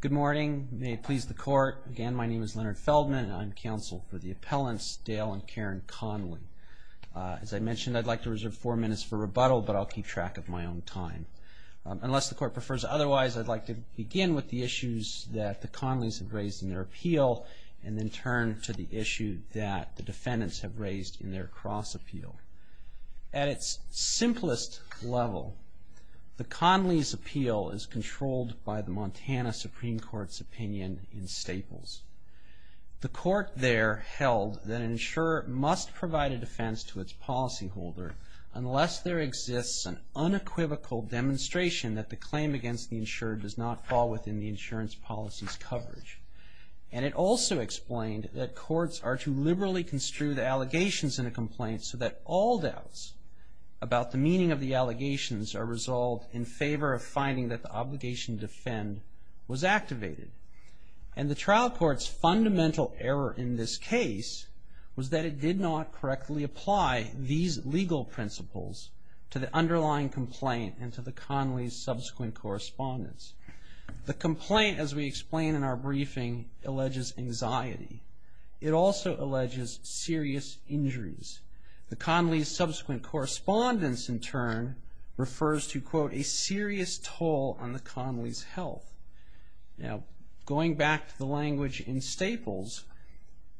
Good morning. May it please the court. Again, my name is Leonard Feldman and I'm counsel for the appellants Dale and Karen Conley. As I mentioned, I'd like to reserve four minutes for rebuttal, but I'll keep track of my own time. Unless the court prefers otherwise, I'd like to begin with the issues that the Conleys have raised in their appeal and then turn to the issue that the defendants have raised in their cross appeal. At its simplest level, the Conleys' appeal is controlled by the Montana Supreme Court's opinion in Staples. The court there held that an insurer must provide a defense to its policyholder unless there exists an unequivocal demonstration that the claim against the insurer does not fall within the insurance policy's coverage. And it also explained that courts are to liberally construe the allegations in a complaint so that all doubts about the meaning of the allegations are resolved in favor of finding that the obligation to defend was activated. And the trial court's fundamental error in this case was that it did not correctly apply these legal principles to the underlying complaint and to the Conley's subsequent correspondence. The complaint, as we explain in our briefing, alleges anxiety. It also alleges serious injuries. The Conley's subsequent correspondence, in turn, refers to, quote, a serious toll on the Conley's health. Now, going back to the language in Staples,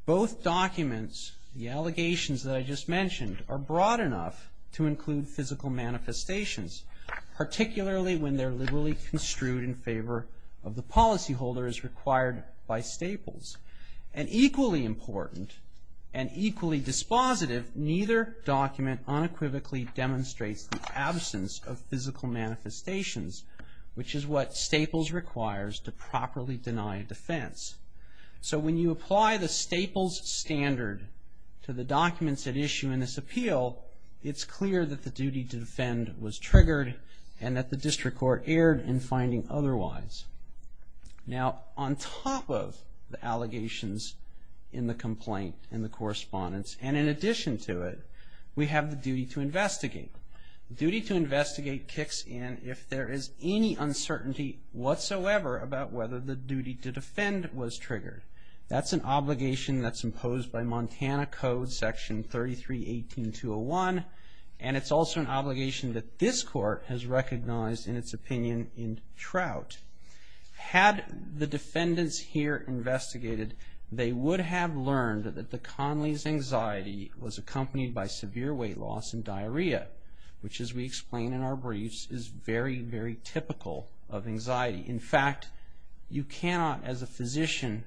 both documents, the allegations that I just mentioned, are broad enough to include physical manifestations, particularly when they're liberally construed in favor of the policyholders required by Staples. And equally important and equally dispositive, neither document unequivocally demonstrates the absence of physical manifestations, which is what Staples requires to properly deny defense. So when you apply the Staples standard to the documents at issue in this appeal, it's clear that the duty to defend was triggered and that the district court erred in finding otherwise. Now, on top of the allegations in the complaint and the correspondence, and in addition to it, we have the duty to investigate. Duty to investigate kicks in if there is any uncertainty whatsoever about whether the duty to defend was triggered. That's an obligation that's imposed by Montana Code Section 33-18-201, and it's also an obligation that this court has recognized in its opinion in Trout. Had the defendants here investigated, they would have learned that the Conley's anxiety was accompanied by severe weight loss and diarrhea, which, as we explain in our briefs, is very, very typical of anxiety. In fact, you cannot as a physician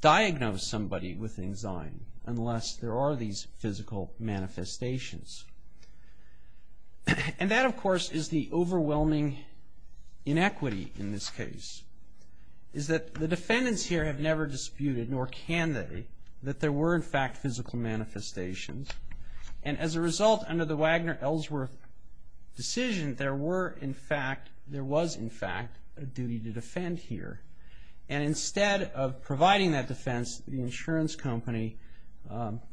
diagnose somebody with anxiety unless there are these physical manifestations. And that, of course, is the overwhelming inequity in this case, is that the defendants here have never disputed, nor can they, that there were, in fact, physical manifestations. And as a result, under the Wagner-Ellsworth decision, there were, in fact, there was, in fact, a duty to defend here. And instead of providing that defense, the insurance company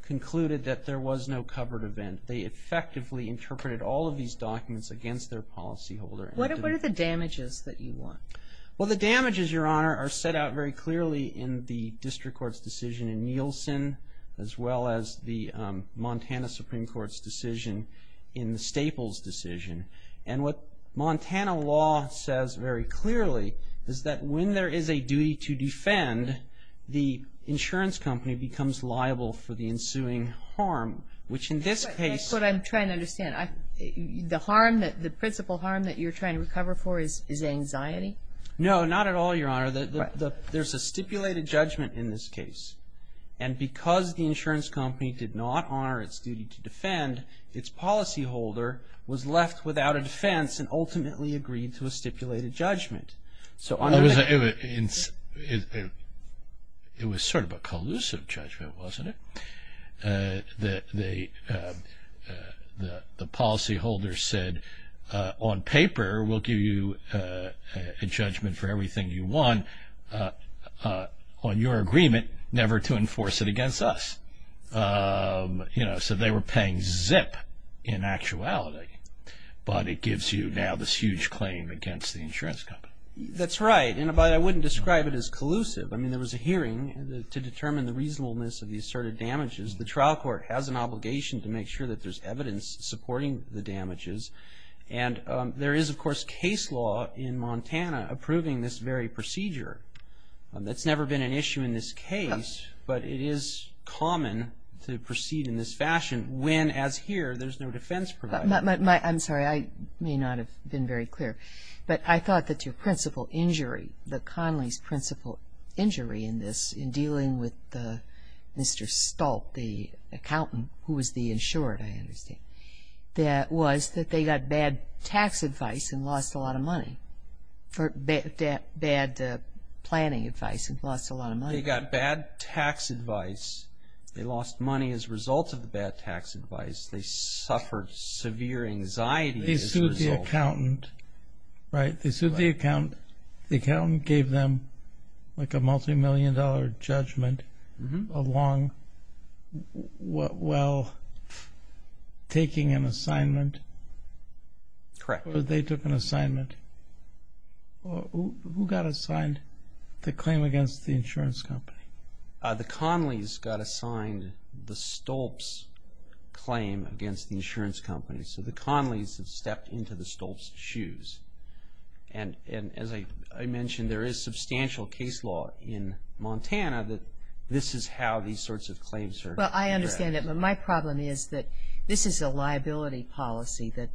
concluded that there was no covered event. They effectively interpreted all of these documents against their policyholder. What are the damages that you want? Well, the damages, Your Honor, are set out very clearly in the district court's decision in Nielsen, as well as the Montana Supreme Court's decision in the Staples decision. And what Montana law says very clearly is that when there is a duty to defend, the insurance company becomes liable for the ensuing harm, which in this case- That's what I'm trying to understand. The principal harm that you're trying to recover for is anxiety? No, not at all, Your Honor. There's a stipulated judgment in this case. And because the insurance company did not honor its duty to defend, its policyholder was left without a defense and ultimately agreed to a stipulated judgment. So under the- It was sort of a collusive judgment, wasn't it? The policyholder said, on paper we'll give you a judgment for everything you want on your agreement, never to enforce it against us. So they were paying zip in actuality, but it gives you now this huge claim against the insurance company. That's right, but I wouldn't describe it as collusive. I mean, there was a hearing to determine the reasonableness of the asserted damages. The trial court has an obligation to make sure that there's evidence supporting the damages. And there is, of course, case law in Montana approving this very procedure. That's never been an issue in this case, but it is common to proceed in this fashion when, as here, there's no defense provided. I'm sorry, I may not have been very clear, but I thought that your principal injury, that Conley's principal injury in this, in dealing with Mr. Stolt, the accountant who was the insured, I understand, that was that they got bad tax advice and lost a lot of money, bad planning advice and lost a lot of money. They got bad tax advice. They lost money as a result of the bad tax advice. They suffered severe anxiety as a result. The accountant, right, they sued the accountant. The accountant gave them like a multimillion-dollar judgment while taking an assignment. Correct. Or they took an assignment. Who got assigned the claim against the insurance company? The Conleys got assigned the Stolt's claim against the insurance company. So the Conleys have stepped into the Stolt's shoes. And as I mentioned, there is substantial case law in Montana that this is how these sorts of claims are addressed. Well, I understand that, but my problem is that this is a liability policy that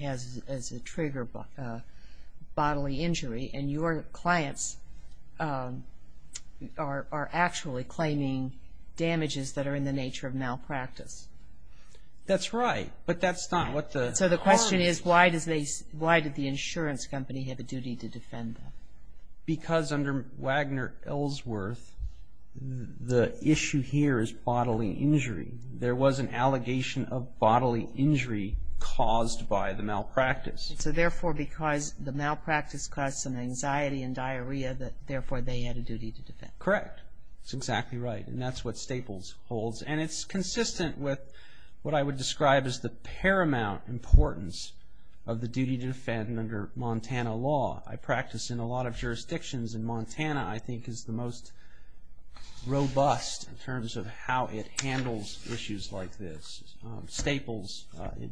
has as a trigger bodily injury, and your clients are actually claiming damages that are in the nature of malpractice. That's right. But that's not what the parties. So the question is why did the insurance company have a duty to defend them? Because under Wagner Ellsworth, the issue here is bodily injury. There was an allegation of bodily injury caused by the malpractice. So therefore, because the malpractice caused some anxiety and diarrhea, therefore they had a duty to defend. Correct. That's exactly right. And that's what Staples holds. And it's consistent with what I would describe as the paramount importance of the duty to defend under Montana law. I practice in a lot of jurisdictions in Montana, I think, is the most robust in terms of how it handles issues like this. Staples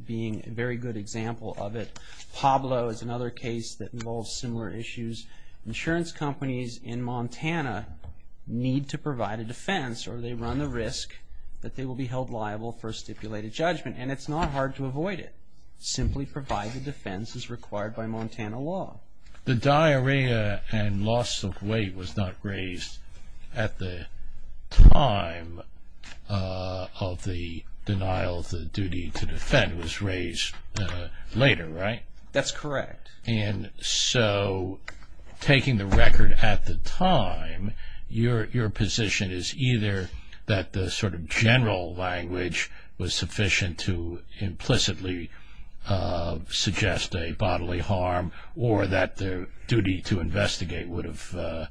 being a very good example of it. Pablo is another case that involves similar issues. Insurance companies in Montana need to provide a defense, or they run the risk that they will be held liable for stipulated judgment. And it's not hard to avoid it. Simply provide the defense as required by Montana law. The diarrhea and loss of weight was not raised at the time of the denial of the duty to defend. It was raised later, right? That's correct. And so taking the record at the time, your position is either that the sort of general language was sufficient to implicitly suggest a bodily harm, or that their duty to investigate would have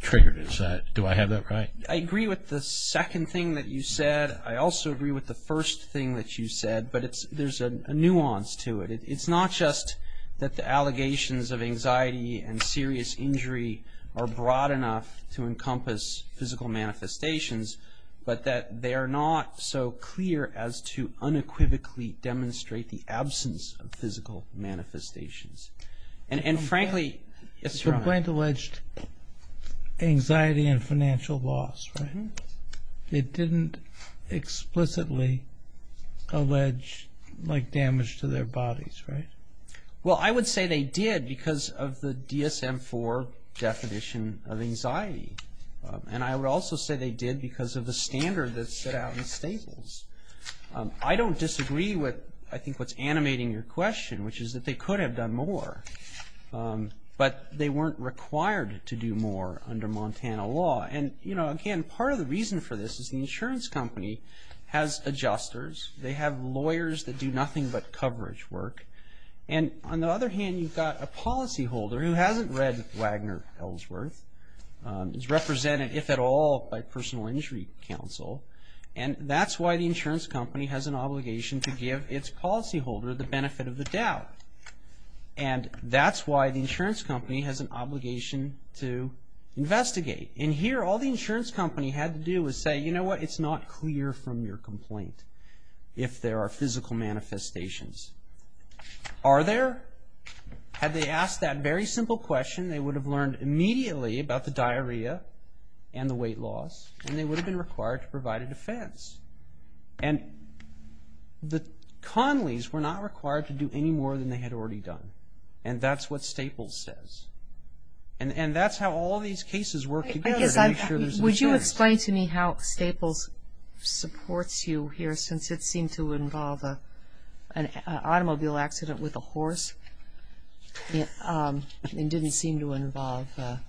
triggered it. Do I have that right? I agree with the second thing that you said. I also agree with the first thing that you said. But there's a nuance to it. It's not just that the allegations of anxiety and serious injury are broad enough to encompass physical manifestations, but that they are not so clear as to unequivocally demonstrate the absence of physical manifestations. And frankly, it's wrong. But Glenn alleged anxiety and financial loss, right? It didn't explicitly allege damage to their bodies, right? Well, I would say they did because of the DSM-IV definition of anxiety. And I would also say they did because of the standard that set out in Staples. I don't disagree with, I think, what's animating your question, which is that they could have done more. But they weren't required to do more under Montana law. And, you know, again, part of the reason for this is the insurance company has adjusters. They have lawyers that do nothing but coverage work. And on the other hand, you've got a policyholder who hasn't read Wagner Ellsworth. He's represented, if at all, by personal injury counsel. And that's why the insurance company has an obligation to give its policyholder the benefit of the doubt. And that's why the insurance company has an obligation to investigate. And here all the insurance company had to do was say, you know what, it's not clear from your complaint if there are physical manifestations. Are there? Had they asked that very simple question, they would have learned immediately about the diarrhea and the weight loss, and they would have been required to provide a defense. And the Conleys were not required to do any more than they had already done. And that's what Staples says. And that's how all these cases work together, to make sure there's insurance. Would you explain to me how Staples supports you here, since it seemed to involve an automobile accident with a horse? It didn't seem to involve a-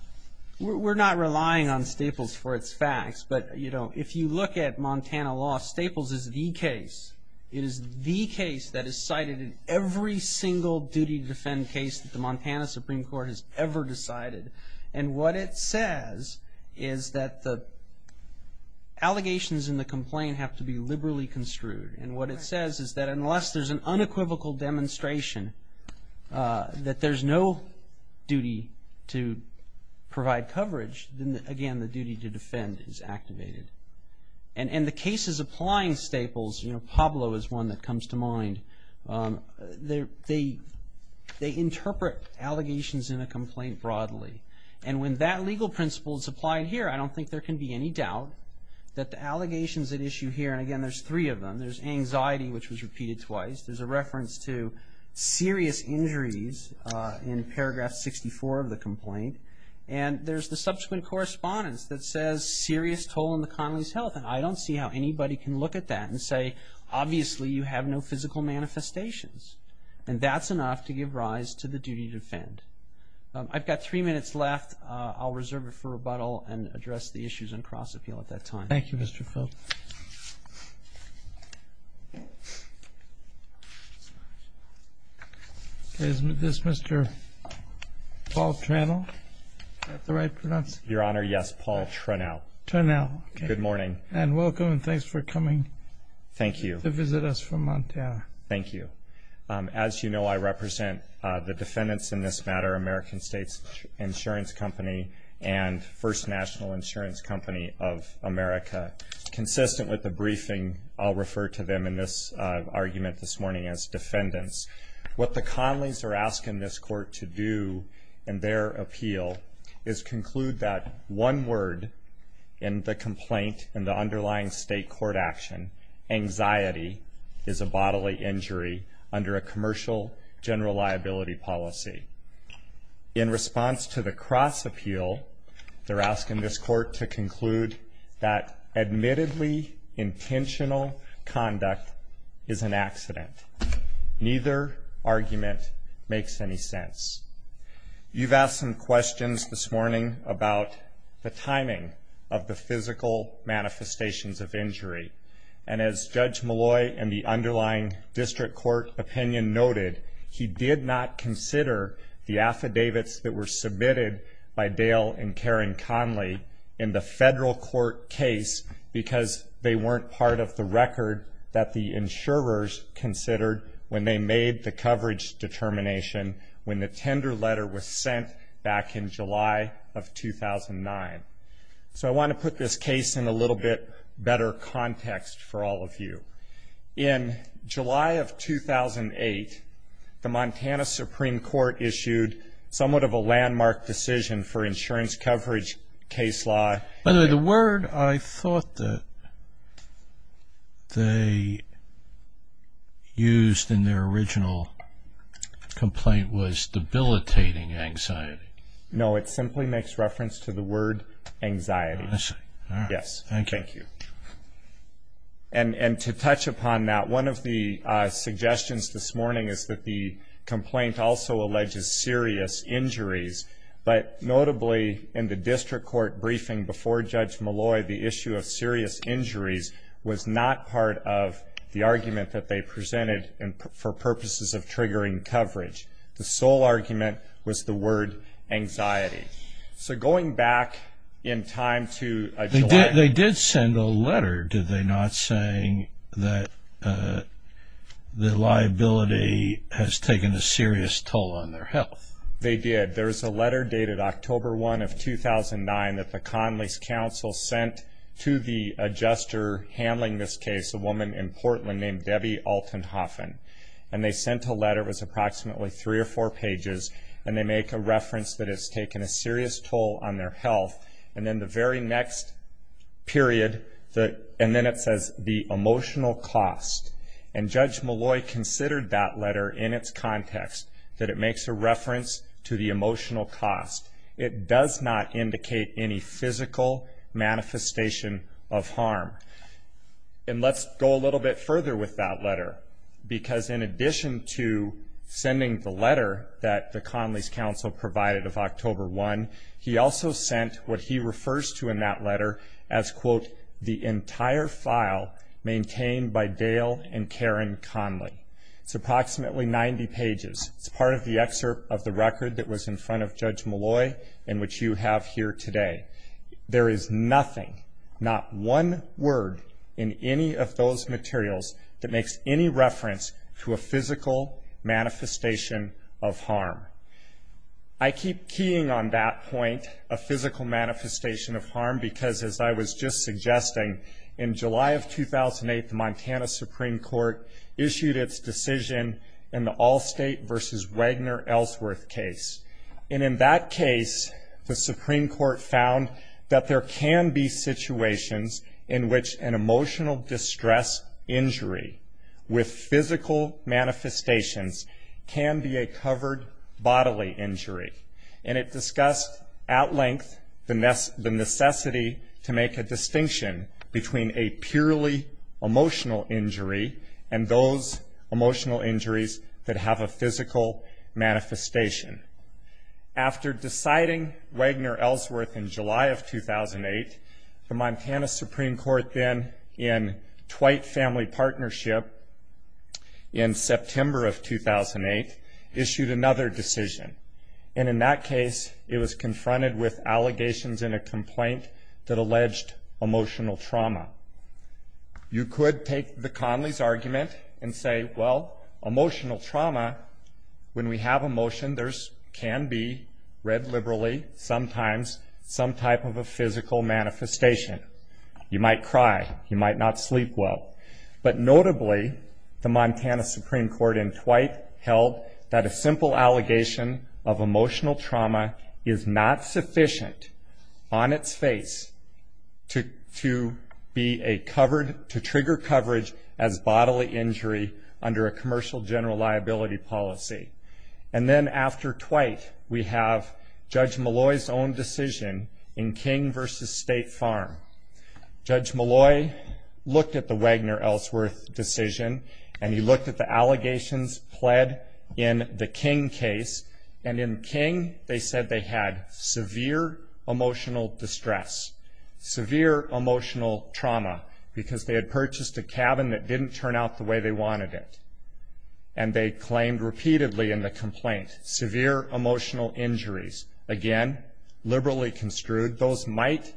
We're not relying on Staples for its facts, but, you know, if you look at Montana law, Staples is the case. It is the case that is cited in every single duty to defend case that the Montana Supreme Court has ever decided. And what it says is that the allegations in the complaint have to be liberally construed. And what it says is that unless there's an unequivocal demonstration that there's no duty to provide coverage, then, again, the duty to defend is activated. And the cases applying Staples, you know, Pablo is one that comes to mind, they interpret allegations in a complaint broadly. And when that legal principle is applied here, I don't think there can be any doubt that the allegations at issue here, and, again, there's three of them. There's anxiety, which was repeated twice. There's a reference to serious injuries in paragraph 64 of the complaint. And there's the subsequent correspondence that says serious toll on the connolly's health. And I don't see how anybody can look at that and say, obviously you have no physical manifestations. And that's enough to give rise to the duty to defend. I've got three minutes left. I'll reserve it for rebuttal and address the issues on cross-appeal at that time. Thank you, Mr. Philp. Is this Mr. Paul Tranel? Is that the right pronunciation? Your Honor, yes, Paul Tranel. Tranel. Good morning. And welcome, and thanks for coming. Thank you. To visit us from Montana. Thank you. As you know, I represent the defendants in this matter, American States Insurance Company and First National Insurance Company of America. Consistent with the briefing, I'll refer to them in this argument this morning as defendants. What the Connellys are asking this court to do in their appeal is conclude that one word in the complaint and the underlying state court action, anxiety is a bodily injury under a commercial general liability policy. In response to the cross-appeal, they're asking this court to conclude that admittedly intentional conduct is an accident. Neither argument makes any sense. You've asked some questions this morning about the timing of the physical manifestations of injury. And as Judge Malloy in the underlying district court opinion noted, he did not consider the affidavits that were submitted by Dale and Karen Connelly in the federal court case because they weren't part of the record that the insurers considered when they made the coverage determination when the tender letter was sent back in July of 2009. So I want to put this case in a little bit better context for all of you. In July of 2008, the Montana Supreme Court issued somewhat of a landmark decision for insurance coverage case law. By the way, the word I thought that they used in their original complaint was debilitating anxiety. No, it simply makes reference to the word anxiety. I see. Yes. Thank you. And to touch upon that, one of the suggestions this morning is that the complaint also alleges serious injuries. But notably, in the district court briefing before Judge Malloy, the issue of serious injuries was not part of the argument that they presented for purposes of triggering coverage. The sole argument was the word anxiety. So going back in time to July. They did send a letter, did they, not saying that the liability has taken a serious toll on their health? They did. There was a letter dated October 1 of 2009 that the Connelly's Council sent to the adjuster handling this case, a woman in Portland named Debbie Altenhoffen. And they sent a letter. It was approximately three or four pages. And they make a reference that it's taken a serious toll on their health. And then the very next period, and then it says the emotional cost. And Judge Malloy considered that letter in its context, that it makes a reference to the emotional cost. It does not indicate any physical manifestation of harm. And let's go a little bit further with that letter. Because in addition to sending the letter that the Connelly's Council provided of October 1, he also sent what he refers to in that letter as, quote, the entire file maintained by Dale and Karen Connelly. It's approximately 90 pages. It's part of the excerpt of the record that was in front of Judge Malloy and which you have here today. There is nothing, not one word in any of those materials that makes any reference to a physical manifestation of harm. I keep keying on that point, a physical manifestation of harm, because as I was just suggesting, in July of 2008, the Montana Supreme Court issued its decision in the Allstate v. Wagner-Ellsworth case. And in that case, the Supreme Court found that there can be situations in which an emotional distress injury with physical manifestations can be a covered bodily injury. And it discussed at length the necessity to make a distinction between a purely emotional injury and those emotional injuries that have a physical manifestation. After deciding Wagner-Ellsworth in July of 2008, the Montana Supreme Court then in Twight Family Partnership in September of 2008 issued another decision. And in that case, it was confronted with allegations in a complaint that alleged emotional trauma. You could take the Connelly's argument and say, well, emotional trauma, when we have emotion, there can be, read liberally, sometimes some type of a physical manifestation. You might cry. You might not sleep well. But notably, the Montana Supreme Court in Twight held that a simple allegation of emotional trauma is not sufficient on its face to trigger coverage as bodily injury under a commercial general liability policy. And then after Twight, we have Judge Malloy's own decision in King v. State Farm. Judge Malloy looked at the Wagner-Ellsworth decision, and he looked at the allegations pled in the King case. And in King, they said they had severe emotional distress, severe emotional trauma, because they had purchased a cabin that didn't turn out the way they wanted it. And they claimed repeatedly in the complaint, severe emotional injuries. Again, liberally construed, those might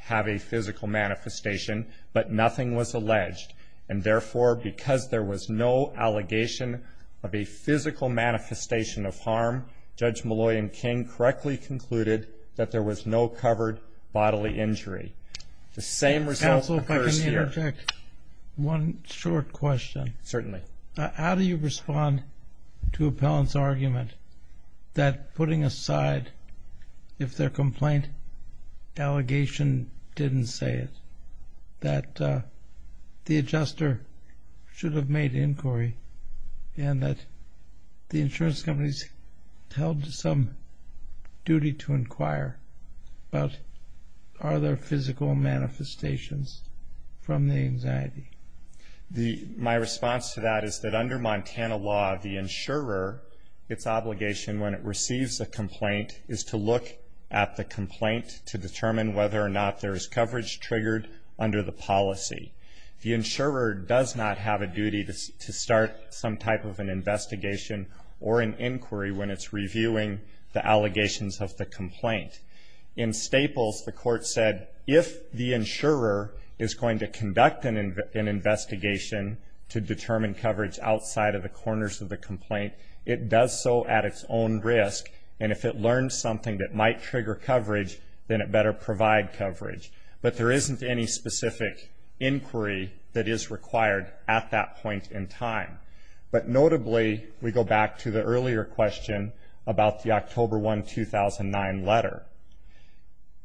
have a physical manifestation, but nothing was alleged. And therefore, because there was no allegation of a physical manifestation of harm, Judge Malloy and King correctly concluded that there was no covered bodily injury. The same result occurs here. Counsel, if I can interject one short question. How do you respond to Appellant's argument that putting aside, if their complaint allegation didn't say it, that the adjuster should have made inquiry and that the insurance companies held some duty to inquire about are there physical manifestations from the anxiety? My response to that is that under Montana law, the insurer, its obligation when it receives a complaint, is to look at the complaint to determine whether or not there is coverage triggered under the policy. The insurer does not have a duty to start some type of an investigation or an inquiry when it's reviewing the allegations of the complaint. In Staples, the court said if the insurer is going to conduct an investigation to determine coverage outside of the corners of the complaint, it does so at its own risk. And if it learns something that might trigger coverage, then it better provide coverage. But there isn't any specific inquiry that is required at that point in time. But notably, we go back to the earlier question about the October 1, 2009 letter.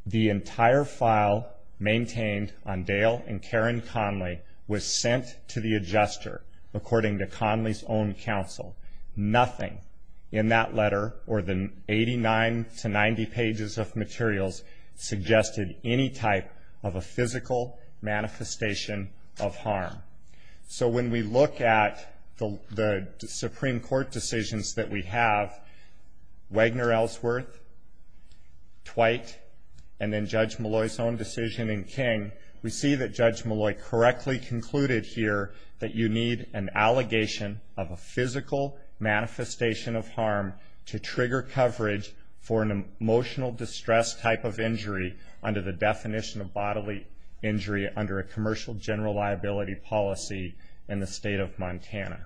The entire file maintained on Dale and Karen Conley was sent to the adjuster, according to Conley's own counsel. Nothing in that letter, or the 89 to 90 pages of materials, suggested any type of a physical manifestation of harm. So when we look at the Supreme Court decisions that we have, Wagner, Ellsworth, Twight, and then Judge Malloy's own decision in King, we see that Judge Malloy correctly concluded here that you need an allegation of a physical manifestation of harm to trigger coverage for an emotional distress type of injury under the definition of bodily injury under a commercial general liability policy in the state of Montana.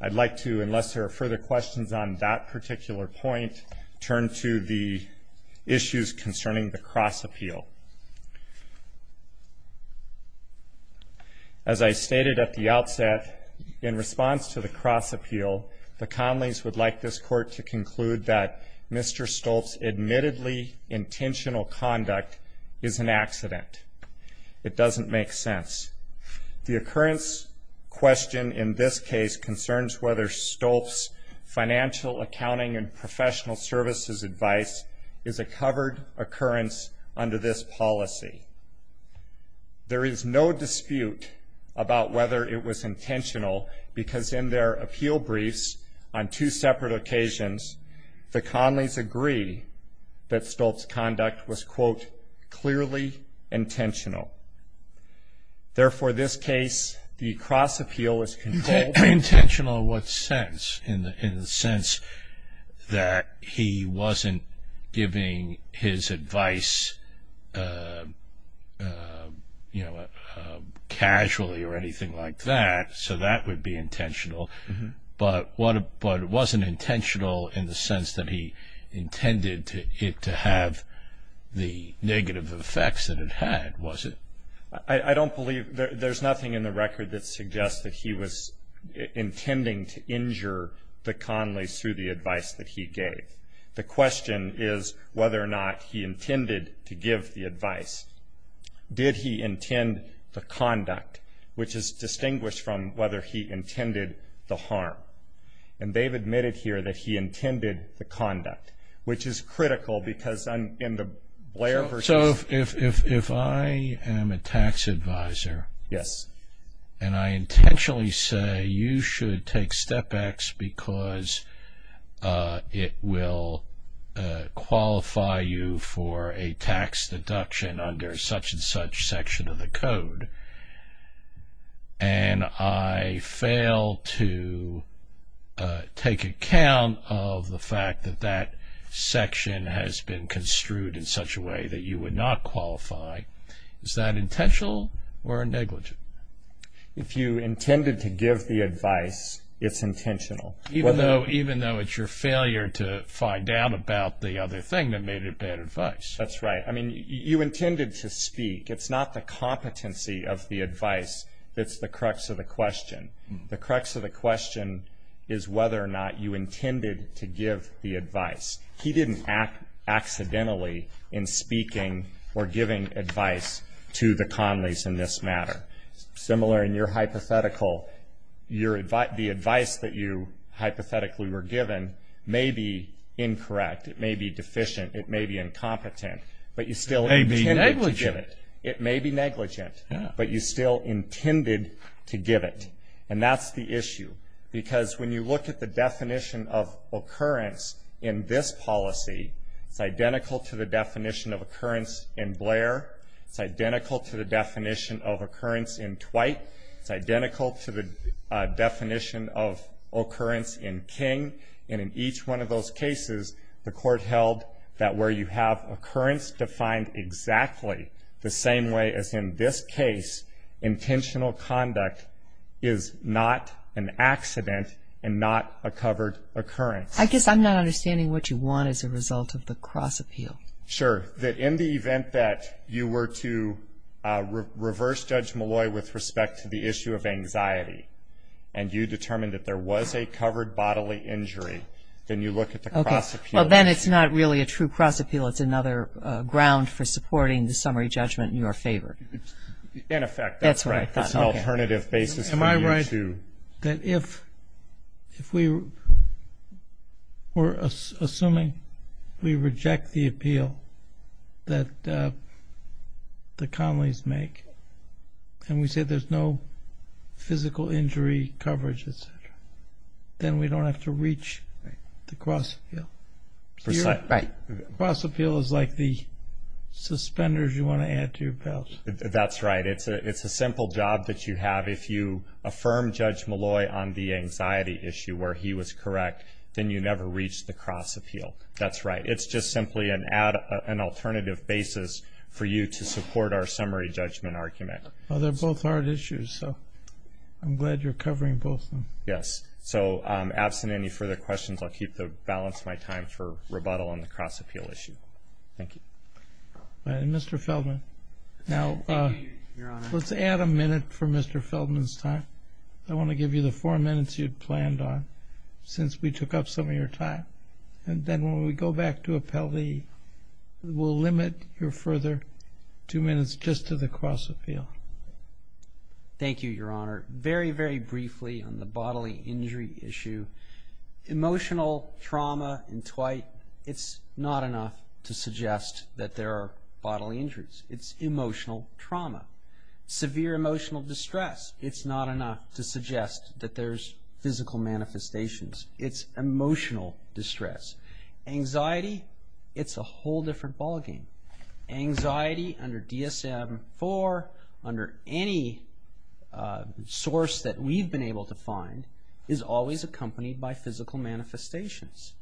I'd like to, unless there are further questions on that particular point, turn to the issues concerning the cross-appeal. As I stated at the outset, in response to the cross-appeal, the Conleys would like this Court to conclude that Mr. Stolz's admittedly intentional conduct is an accident. It doesn't make sense. The occurrence question in this case concerns whether Stolz's financial, accounting, and professional services advice is a covered occurrence under this policy. There is no dispute about whether it was intentional, because in their appeal briefs on two separate occasions, the Conleys agree that Stolz's conduct was, quote, clearly intentional. Therefore, this case, the cross-appeal is controlled. Intentional in what sense? In the sense that he wasn't giving his advice, you know, casually or anything like that, so that would be intentional. But it wasn't intentional in the sense that he intended it to have the negative effects that it had, was it? I don't believe there's nothing in the record that suggests that he was intending to injure the Conleys through the advice that he gave. The question is whether or not he intended to give the advice. Did he intend the conduct, which is distinguished from whether he intended the harm? And they've admitted here that he intended the conduct, which is critical because in the Blair v. So if I am a tax advisor and I intentionally say you should take Step X because it will qualify you for a tax deduction under such and such section of the code, and I fail to take account of the fact that that section has been construed in such a way that you would not qualify, is that intentional or negligent? If you intended to give the advice, it's intentional. Even though it's your failure to find out about the other thing that made it bad advice. That's right. I mean, you intended to speak. It's not the competency of the advice that's the crux of the question. The crux of the question is whether or not you intended to give the advice. He didn't act accidentally in speaking or giving advice to the connoisseurs in this matter. Similar in your hypothetical, the advice that you hypothetically were given may be incorrect. It may be deficient. It may be incompetent. But you still intended to give it. It may be negligent. And that's the issue. Because when you look at the definition of occurrence in this policy, it's identical to the definition of occurrence in Blair. It's identical to the definition of occurrence in Twight. It's identical to the definition of occurrence in King. And in each one of those cases, the court held that where you have occurrence defined exactly the same way as in this case, intentional conduct is not an accident and not a covered occurrence. I guess I'm not understanding what you want as a result of the cross-appeal. Sure. That in the event that you were to reverse Judge Malloy with respect to the issue of anxiety and you determined that there was a covered bodily injury, then you look at the cross-appeal. Well, then it's not really a true cross-appeal. It's another ground for supporting the summary judgment in your favor. In effect, that's right. That's an alternative basis for you to. Am I right that if we were assuming we reject the appeal that the Connellys make and we say there's no physical injury coverage, et cetera, then we don't have to reach the cross-appeal? Right. Cross-appeal is like the suspenders you want to add to your belt. That's right. It's a simple job that you have. If you affirm Judge Malloy on the anxiety issue where he was correct, then you never reach the cross-appeal. That's right. It's just simply an alternative basis for you to support our summary judgment argument. Well, they're both hard issues, so I'm glad you're covering both of them. Yes. So absent any further questions, I'll keep the balance of my time for rebuttal on the cross-appeal issue. Thank you. Mr. Feldman. Thank you, Your Honor. Let's add a minute for Mr. Feldman's time. I want to give you the four minutes you'd planned on since we took up some of your time. And then when we go back to appellee, we'll limit your further two minutes just to the cross-appeal. Thank you, Your Honor. Very, very briefly on the bodily injury issue. Emotional trauma and twite, it's not enough to suggest that there are bodily injuries. It's emotional trauma. Severe emotional distress, it's not enough to suggest that there's physical manifestations. It's emotional distress. Anxiety, it's a whole different ballgame. Anxiety under DSM-IV, under any source that we've been able to find, is always accompanied by physical manifestations.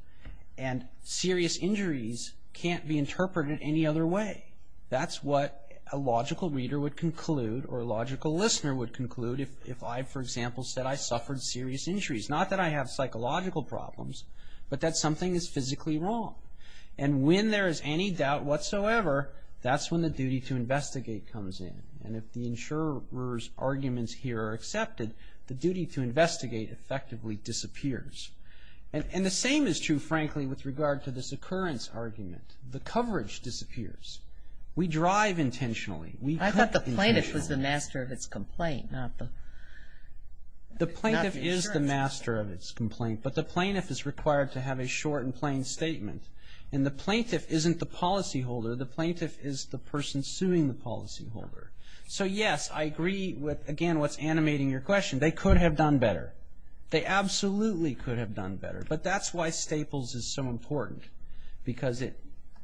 And serious injuries can't be interpreted any other way. That's what a logical reader would conclude or a logical listener would conclude if I, for example, said I suffered serious injuries. Not that I have psychological problems, but that something is physically wrong. And when there is any doubt whatsoever, that's when the duty to investigate comes in. And if the insurer's arguments here are accepted, the duty to investigate effectively disappears. And the same is true, frankly, with regard to this occurrence argument. The coverage disappears. We drive intentionally. I thought the plaintiff was the master of its complaint, not the insurance. The plaintiff is the master of its complaint, but the plaintiff is required to have a short and plain statement. And the plaintiff isn't the policyholder. The plaintiff is the person suing the policyholder. So, yes, I agree with, again, what's animating your question. They could have done better. They absolutely could have done better, but that's why Staples is so important, because it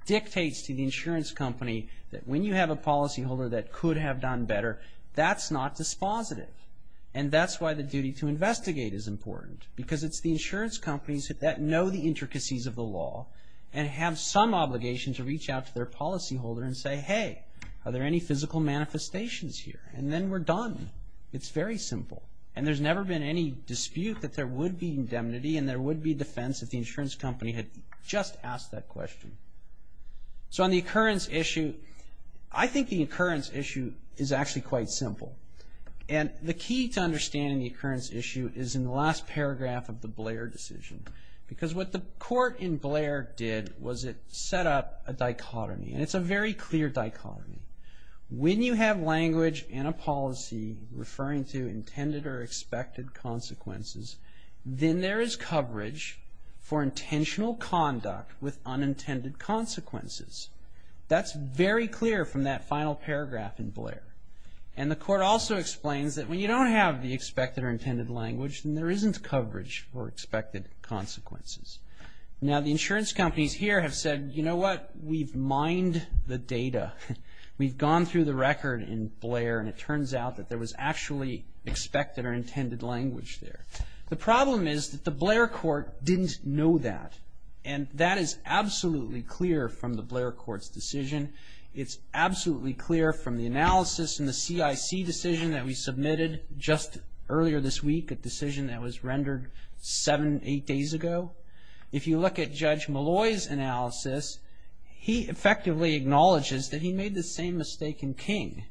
dictates to the insurance company that when you have a policyholder that could have done better, that's not dispositive. And that's why the duty to investigate is important, because it's the insurance companies that know the intricacies of the law and have some obligation to reach out to their policyholder and say, hey, are there any physical manifestations here? And then we're done. It's very simple. And there's never been any dispute that there would be indemnity and there would be defense if the insurance company had just asked that question. So on the occurrence issue, I think the occurrence issue is actually quite simple. And the key to understanding the occurrence issue is in the last paragraph of the Blair decision, because what the court in Blair did was it set up a dichotomy, and it's a very clear dichotomy. When you have language in a policy referring to intended or expected consequences, then there is coverage for intentional conduct with unintended consequences. That's very clear from that final paragraph in Blair. And the court also explains that when you don't have the expected or intended language, then there isn't coverage for expected consequences. Now, the insurance companies here have said, you know what, we've mined the data. We've gone through the record in Blair, and it turns out that there was actually expected or intended language there. The problem is that the Blair court didn't know that, and that is absolutely clear from the Blair court's decision. It's absolutely clear from the analysis in the CIC decision that we submitted just earlier this week, a decision that was rendered seven, eight days ago. If you look at Judge Malloy's analysis, he effectively acknowledges that he made the same mistake in King.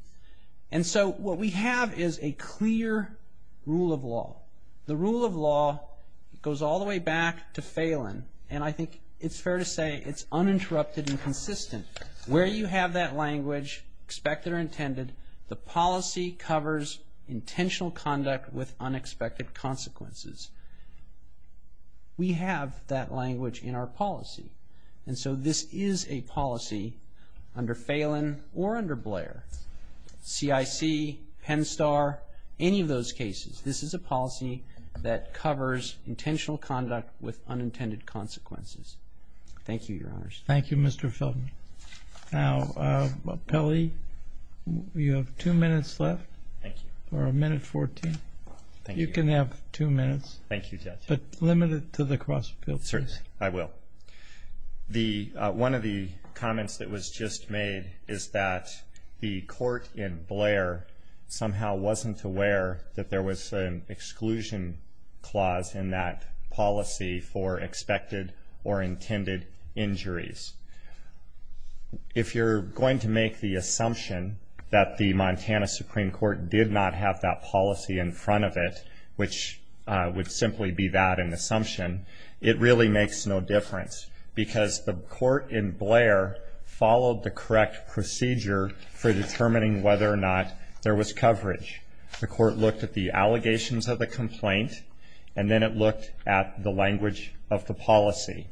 And so what we have is a clear rule of law. The rule of law goes all the way back to Phelan, and I think it's fair to say it's uninterrupted and consistent. Where you have that language, expected or intended, the policy covers intentional conduct with unexpected consequences. We have that language in our policy, and so this is a policy under Phelan or under Blair, CIC, Penn Star, any of those cases, this is a policy that covers intentional conduct with unintended consequences. Thank you, Your Honors. Thank you, Mr. Feldman. Now, Pelley, you have two minutes left. Thank you. Or a minute 14. Thank you. You can have two minutes. Thank you, Judge. But limit it to the cross-appeal, please. I will. One of the comments that was just made is that the court in Blair somehow wasn't aware that there was an exclusion clause in that policy for expected or intended injuries. If you're going to make the assumption that the Montana Supreme Court did not have that policy in front of it, which would simply be that an assumption, it really makes no difference, because the court in Blair followed the correct procedure for determining whether or not there was coverage. The court looked at the allegations of the complaint, and then it looked at the language of the policy.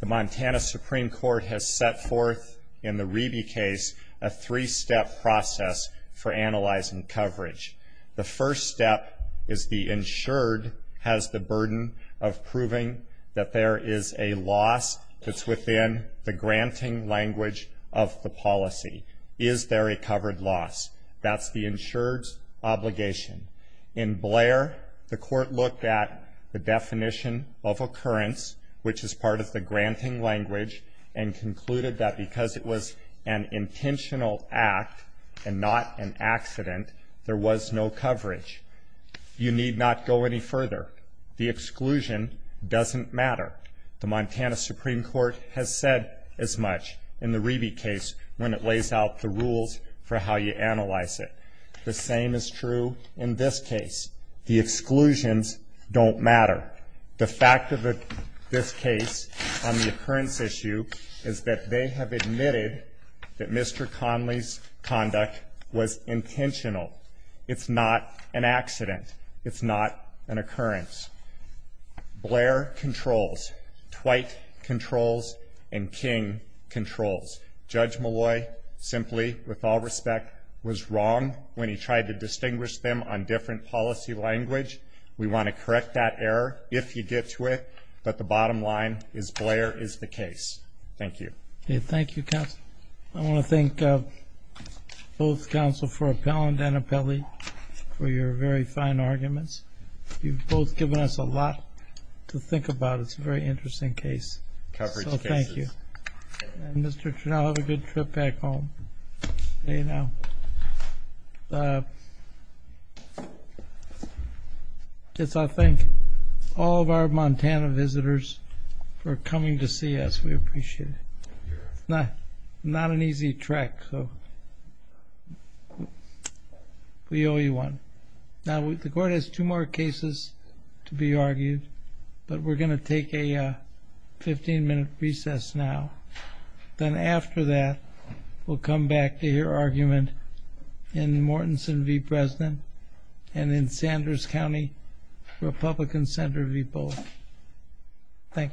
The Montana Supreme Court has set forth in the Reby case a three-step process for analyzing coverage. The first step is the insured has the burden of proving that there is a loss that's within the granting language of the policy. Is there a covered loss? That's the insured's obligation. In Blair, the court looked at the definition of occurrence, which is part of the granting language, and concluded that because it was an intentional act and not an accident, there was no coverage. You need not go any further. The exclusion doesn't matter. The Montana Supreme Court has said as much in the Reby case when it lays out the rules for how you analyze it. The same is true in this case. The exclusions don't matter. The fact of this case on the occurrence issue is that they have admitted that Mr. Conley's conduct was intentional. It's not an accident. It's not an occurrence. Blair controls, Twight controls, and King controls. Judge Malloy simply, with all respect, was wrong when he tried to distinguish them on different policy language. We want to correct that error if you get to it, but the bottom line is Blair is the case. Thank you. Thank you, counsel. I want to thank both counsel for appellant and appellee for your very fine arguments. You've both given us a lot to think about. It's a very interesting case. Thank you. And Mr. Trinnell, have a good trip back home. I'll thank all of our Montana visitors for coming to see us. We appreciate it. It's not an easy trek, so we owe you one. Now, the court has two more cases to be argued, but we're going to take a 15-minute recess now. Then after that, we'll come back to hear argument in Mortenson v. President and in Sanders County Republican Center v. Bullock. Thank you.